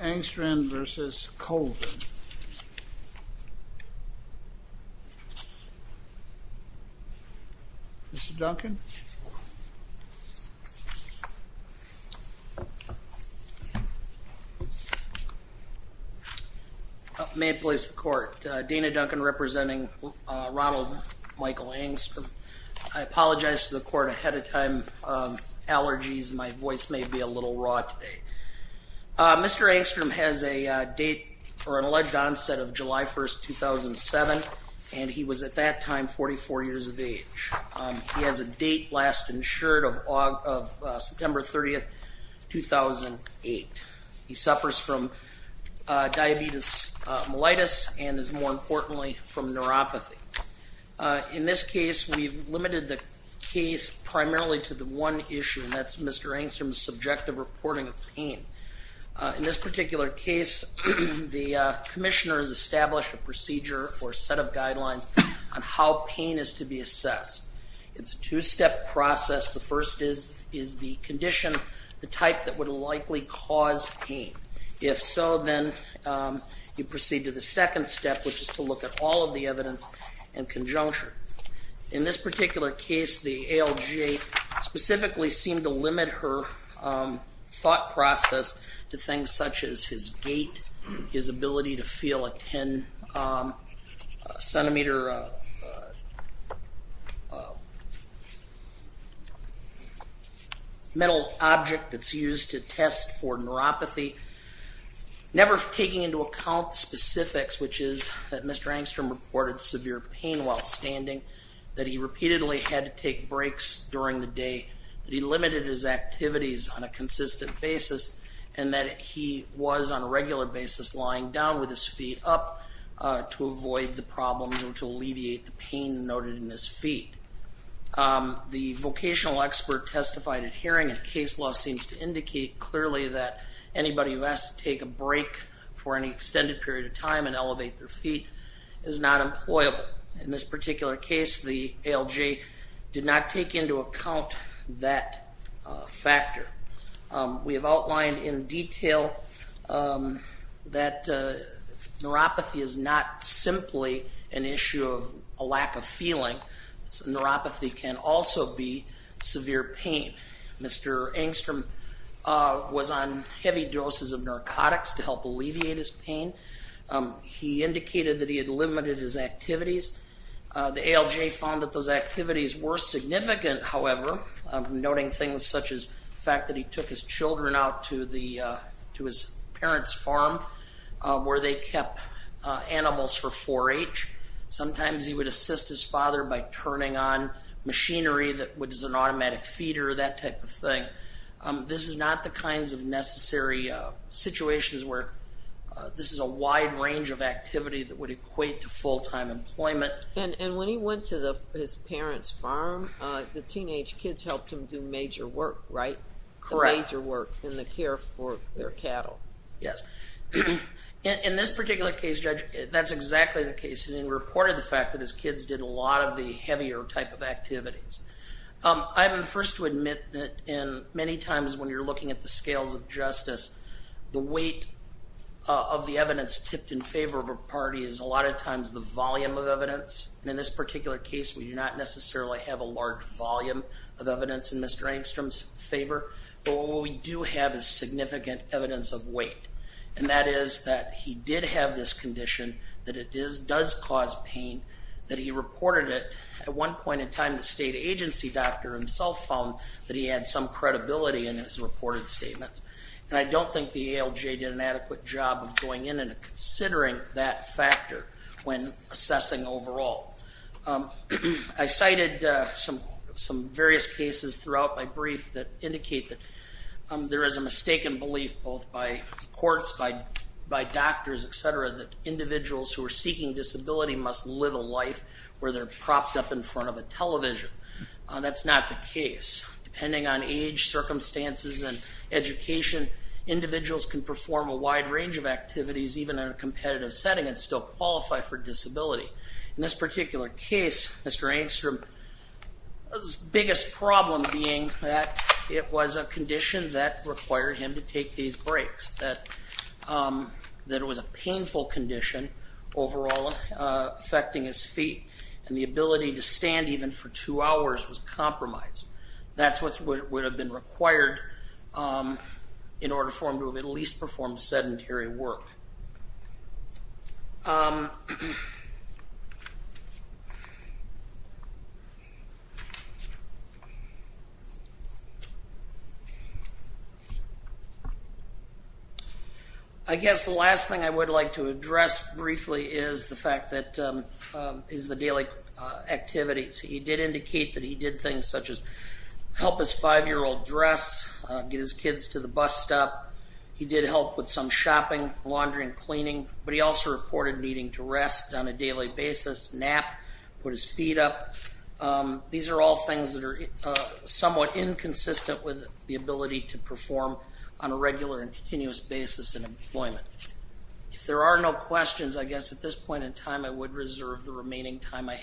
Engstrand v. Colvin. Mr. Duncan? May it please the court. Dana Duncan representing Ronald Michael Engstrand. I apologize to the court ahead of time. Allergies, my Mr. Engstrand has a date for an alleged onset of July 1st 2007 and he was at that time 44 years of age. He has a date last insured of September 30th 2008. He suffers from diabetes mellitus and is more importantly from neuropathy. In this case we've limited the case primarily to the one issue and that's Mr. Engstrand's subjective reporting of pain. In this particular case the Commissioner has established a procedure or set of guidelines on how pain is to be assessed. It's a two-step process. The first is is the condition the type that would likely cause pain. If so then you proceed to the second step which is to look at all of the evidence and conjuncture. In this particular case the ALJ specifically seemed to limit her thought process to things such as his gait, his ability to feel a 10 centimeter metal object that's used to test for neuropathy, never taking into account specifics which is that Mr. Engstrand reported severe pain while limited his activities on a consistent basis and that he was on a regular basis lying down with his feet up to avoid the problems or to alleviate the pain noted in his feet. The vocational expert testified at hearing and case law seems to indicate clearly that anybody who has to take a break for any extended period of time and elevate their feet is not employable. In this particular case the ALJ seemed to take into account that factor. We have outlined in detail that neuropathy is not simply an issue of a lack of feeling. Neuropathy can also be severe pain. Mr. Engstrom was on heavy doses of narcotics to help alleviate his pain. He indicated that he had limited his activities. The ALJ found that those however, noting things such as the fact that he took his children out to the to his parents farm where they kept animals for 4-H. Sometimes he would assist his father by turning on machinery that was an automatic feeder that type of thing. This is not the kinds of necessary situations where this is a wide range of activity that would equate to full-time employment. And when he went to the his teenage kids helped him do major work, right? Correct. Major work in the care for their cattle. Yes. In this particular case, Judge, that's exactly the case. He reported the fact that his kids did a lot of the heavier type of activities. I'm first to admit that in many times when you're looking at the scales of justice, the weight of the evidence tipped in favor of a party is a lot of times the volume of evidence in Mr. Engstrom's favor. But what we do have is significant evidence of weight. And that is that he did have this condition, that it does cause pain, that he reported it. At one point in time the state agency doctor himself found that he had some credibility in his reported statements. And I don't think the ALJ did an adequate job of going in and considering that factor when I cited some various cases throughout my brief that indicate that there is a mistaken belief both by courts, by doctors, etc., that individuals who are seeking disability must live a life where they're propped up in front of a television. That's not the case. Depending on age, circumstances, and education, individuals can perform a wide range of activities even in a competitive setting and still qualify for disability. In this particular case, Mr. Engstrom's biggest problem being that it was a condition that required him to take these breaks. That it was a painful condition overall affecting his feet and the ability to stand even for two hours was compromised. That's what would have been I guess the last thing I would like to address briefly is the fact that is the daily activities. He did indicate that he did things such as help his five-year-old dress, get his kids to the bus stop. He did help with some shopping, laundry, and cleaning, but he also reported needing to rest on a daily basis, nap, put his feet up. These are all things that are somewhat inconsistent with the ability to perform on a regular and continuous basis in employment. If there are no questions, I guess at this point in time I would reserve the remaining time I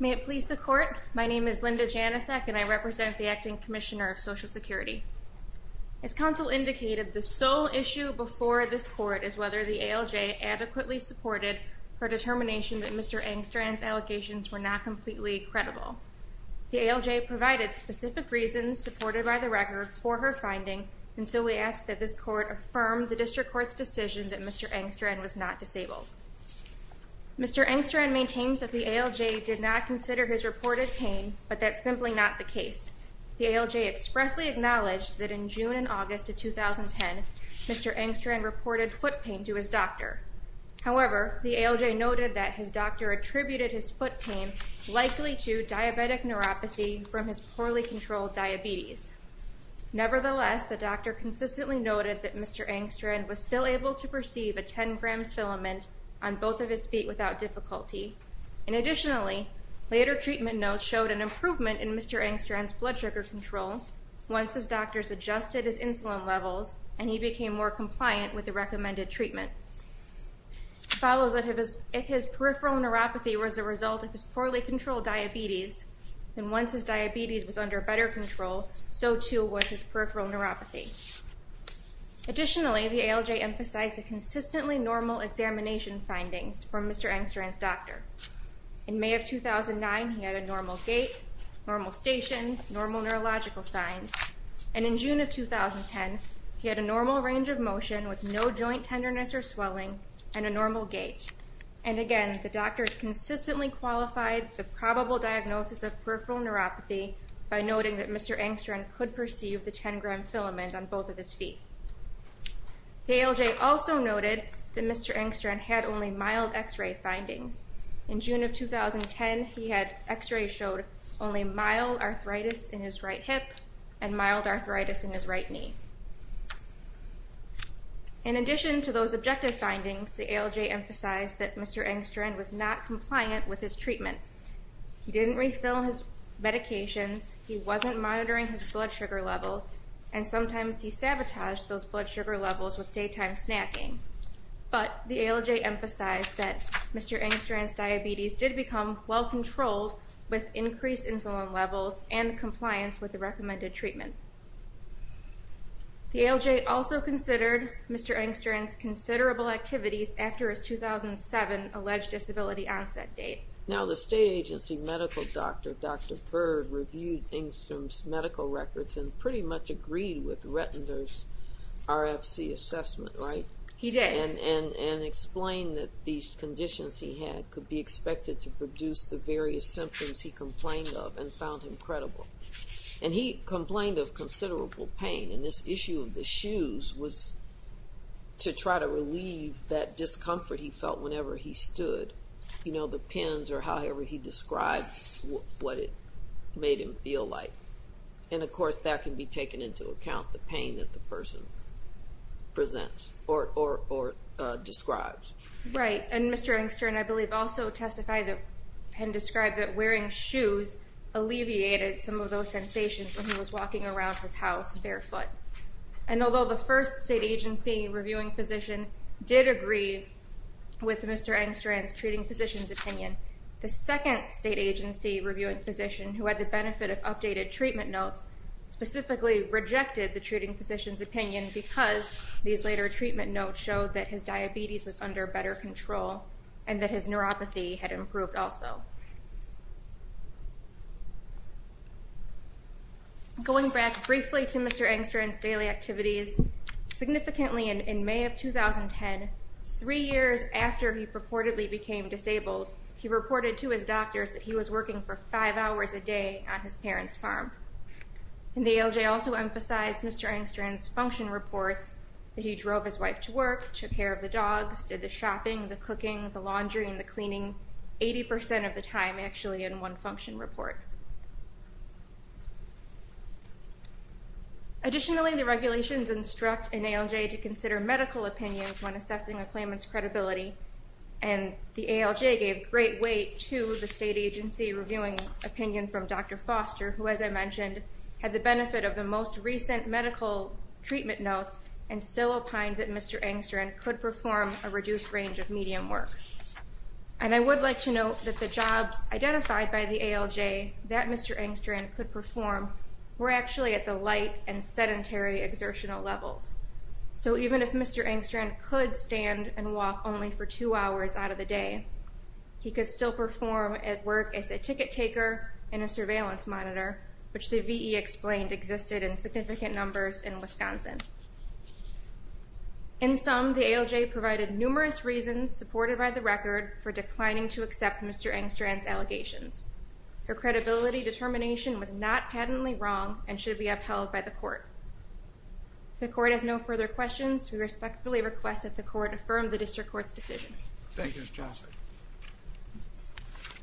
May it please the court, my name is Linda Janicek and I represent the Acting Commissioner of Social Security. As counsel indicated, the sole issue before this court is whether the ALJ adequately supported her determination that Mr. Engstrand's allegations were not completely credible. The ALJ provided specific reasons supported by the record for her finding, and so we ask that this court affirm the District Court's decision that Mr. Engstrand was not disabled. Mr. Engstrand maintains that the ALJ did not consider his reported pain, but that's simply not the case. The ALJ expressly acknowledged that in June and August of 2010, Mr. Engstrand reported foot pain to his doctor. However, the ALJ noted that his doctor attributed his foot pain likely to diabetic neuropathy from his poorly controlled diabetes. Nevertheless, the doctor consistently noted that Mr. Engstrand was still able to perceive a 10-gram filament on both of his feet without difficulty. And additionally, later treatment notes showed an improvement in Mr. Engstrand's blood sugar control once his doctors adjusted his insulin levels and he became more compliant with the recommended treatment. It follows that if his peripheral neuropathy was a result of his poorly controlled diabetes, then once his diabetes was under better control, so too was his peripheral neuropathy. Additionally, the ALJ emphasized the consistently normal examination findings from Mr. Engstrand's doctor. In May of 2009, he had a normal gait, normal station, normal neurological signs, and in June of 2010, he had a normal range of motion with no joint tenderness or swelling and a normal gait. And again, the doctors consistently qualified the probable diagnosis of peripheral neuropathy by noting that Mr. Engstrand could perceive the 10-gram filament on both of his feet. The ALJ also noted that Mr. Engstrand had only mild x-ray findings. In June of 2010, he had x-rays showed only mild arthritis in his right hip and mild arthritis in his right knee. In addition to those objective findings, the ALJ emphasized that Mr. Engstrand was not compliant with his treatment. He didn't refill his medications, he wasn't monitoring his blood sugar levels, and sometimes he sabotaged those blood sugar levels with daytime snacking. But the ALJ emphasized that Mr. Engstrand's levels and compliance with the recommended treatment. The ALJ also considered Mr. Engstrand's considerable activities after his 2007 alleged disability onset date. Now the state agency medical doctor, Dr. Bird, reviewed Engstrand's medical records and pretty much agreed with Rettender's RFC assessment, right? He did. And explained that these conditions he had could be found incredible. And he complained of considerable pain, and this issue of the shoes was to try to relieve that discomfort he felt whenever he stood. You know, the pins or however he described what it made him feel like. And of course that can be taken into account, the pain that the person presents or describes. Right. And Mr. Engstrand, I believe, also testified that, and described that he alleviated some of those sensations when he was walking around his house barefoot. And although the first state agency reviewing physician did agree with Mr. Engstrand's treating physician's opinion, the second state agency reviewing physician, who had the benefit of updated treatment notes, specifically rejected the treating physician's opinion because these later treatment notes showed that his diabetes was under better control, and that his neuropathy had improved also. Going back briefly to Mr. Engstrand's daily activities, significantly in May of 2010, three years after he purportedly became disabled, he reported to his doctors that he was working for five hours a day on his parents farm. And the ALJ also emphasized Mr. Engstrand's function reports, that he drove his wife to work, took care of the dogs, did the shopping, the cooking, the laundry, and the laundry, 80% of the time actually in one function report. Additionally, the regulations instruct an ALJ to consider medical opinions when assessing a claimant's credibility, and the ALJ gave great weight to the state agency reviewing opinion from Dr. Foster, who, as I mentioned, had the benefit of the most recent medical treatment notes, and still opined that Mr. Engstrand could perform a reduced range of medium work. And I would like to note that the jobs identified by the ALJ that Mr. Engstrand could perform were actually at the light and sedentary exertional levels. So even if Mr. Engstrand could stand and walk only for two hours out of the day, he could still perform at work as a ticket taker and a surveillance monitor, which the VE explained existed in significant numbers in Wisconsin. In sum, the ALJ provided numerous reasons, supported by the record, for declining to accept Mr. Engstrand's allegations. Her credibility determination was not patently wrong and should be upheld by the court. If the court has no further questions, we respectfully request that the court affirm the district court's decision. Thank you, Ms. Jossett.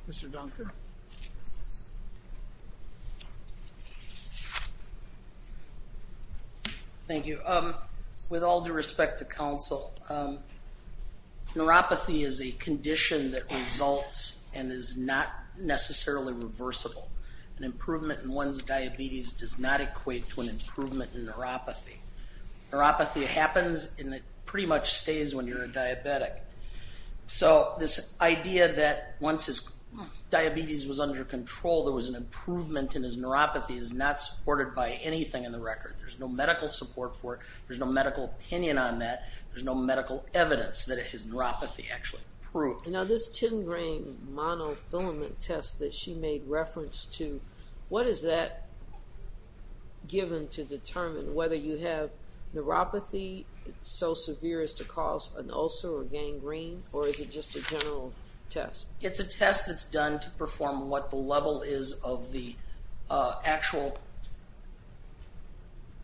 Mr. Dunker? Thank you. With all due respect to counsel, neuropathy is a condition that results and is not necessarily reversible. An improvement in one's diabetes does not equate to an improvement in neuropathy. Neuropathy happens and it pretty much stays when you're a diabetic. So this idea that once his diabetes was under control, there was an improvement in his neuropathy is not supported by anything in the record. There's no medical support for it. There's no medical opinion on that. There's no medical evidence that his neuropathy actually proved. Now this tin grain monofilament test that she made reference to, what is that given to determine whether you have neuropathy so severe as to cause an ulcer or gangrene or is it just a general test? It's a test that's done to perform what the level is of the actual,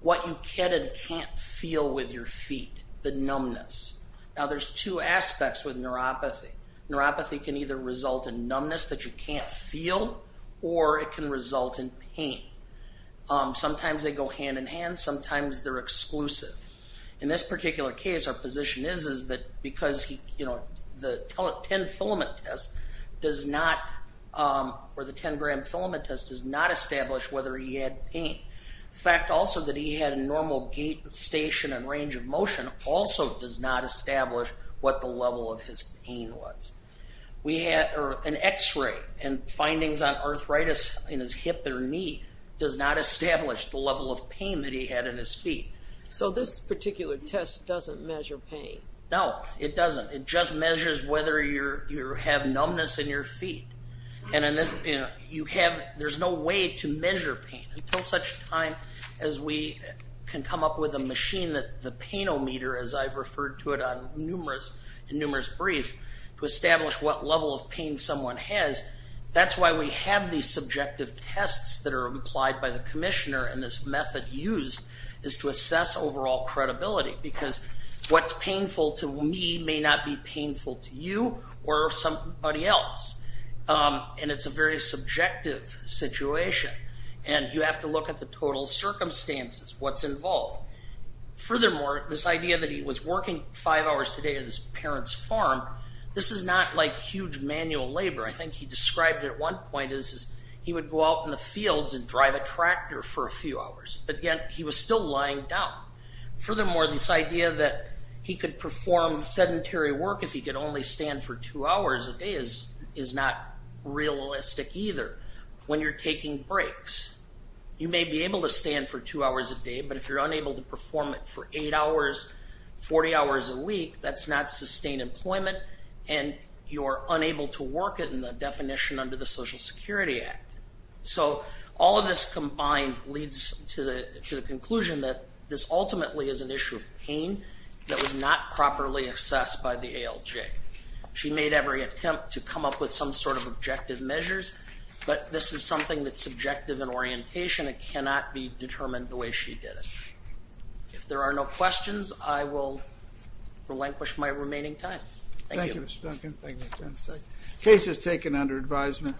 what you can and can't feel with your feet, the numbness. Now there's two aspects with neuropathy. Neuropathy can either result in numbness that you can't feel or it can result in pain. Sometimes they go hand-in-hand, sometimes they're exclusive. In this particular case, our position is that because he, you know, the 10 filament test does not, or the 10 gram filament test does not establish whether he had pain. The fact also that he had a normal gait and station and range of motion also does not establish what the level of his pain was. We had an x-ray and findings on arthritis in his hip or knee does not establish the level of pain that he had in his feet. So this particular test doesn't measure pain? No, it doesn't. It just measures whether you have numbness in your feet. And in this, you know, you have, there's no way to measure pain until such time as we can come up with a machine that the Pain-O-Meter, as I've referred to it on numerous, in numerous briefs, to establish what level of pain someone has. That's why we have these subjective tests that are applied by the commissioner and this method used is to find out if it's painful to you or somebody else. And it's a very subjective situation and you have to look at the total circumstances, what's involved. Furthermore, this idea that he was working five hours a day at his parents' farm, this is not like huge manual labor. I think he described it at one point as he would go out in the fields and drive a tractor for a few hours, but yet he was still lying down. Furthermore, this idea that he could perform sedentary work if he could only stand for two hours a day is is not realistic either. When you're taking breaks, you may be able to stand for two hours a day, but if you're unable to perform it for eight hours, 40 hours a week, that's not sustained employment and you're unable to work it in the definition under the Social Security Act. So all of this combined leads to the to the conclusion that this She made every attempt to come up with some sort of objective measures, but this is something that's subjective in orientation. It cannot be determined the way she did it. If there are no questions, I will relinquish my remaining time. Thank you. Thank you, Mr. Duncan. Case is taken under advisement.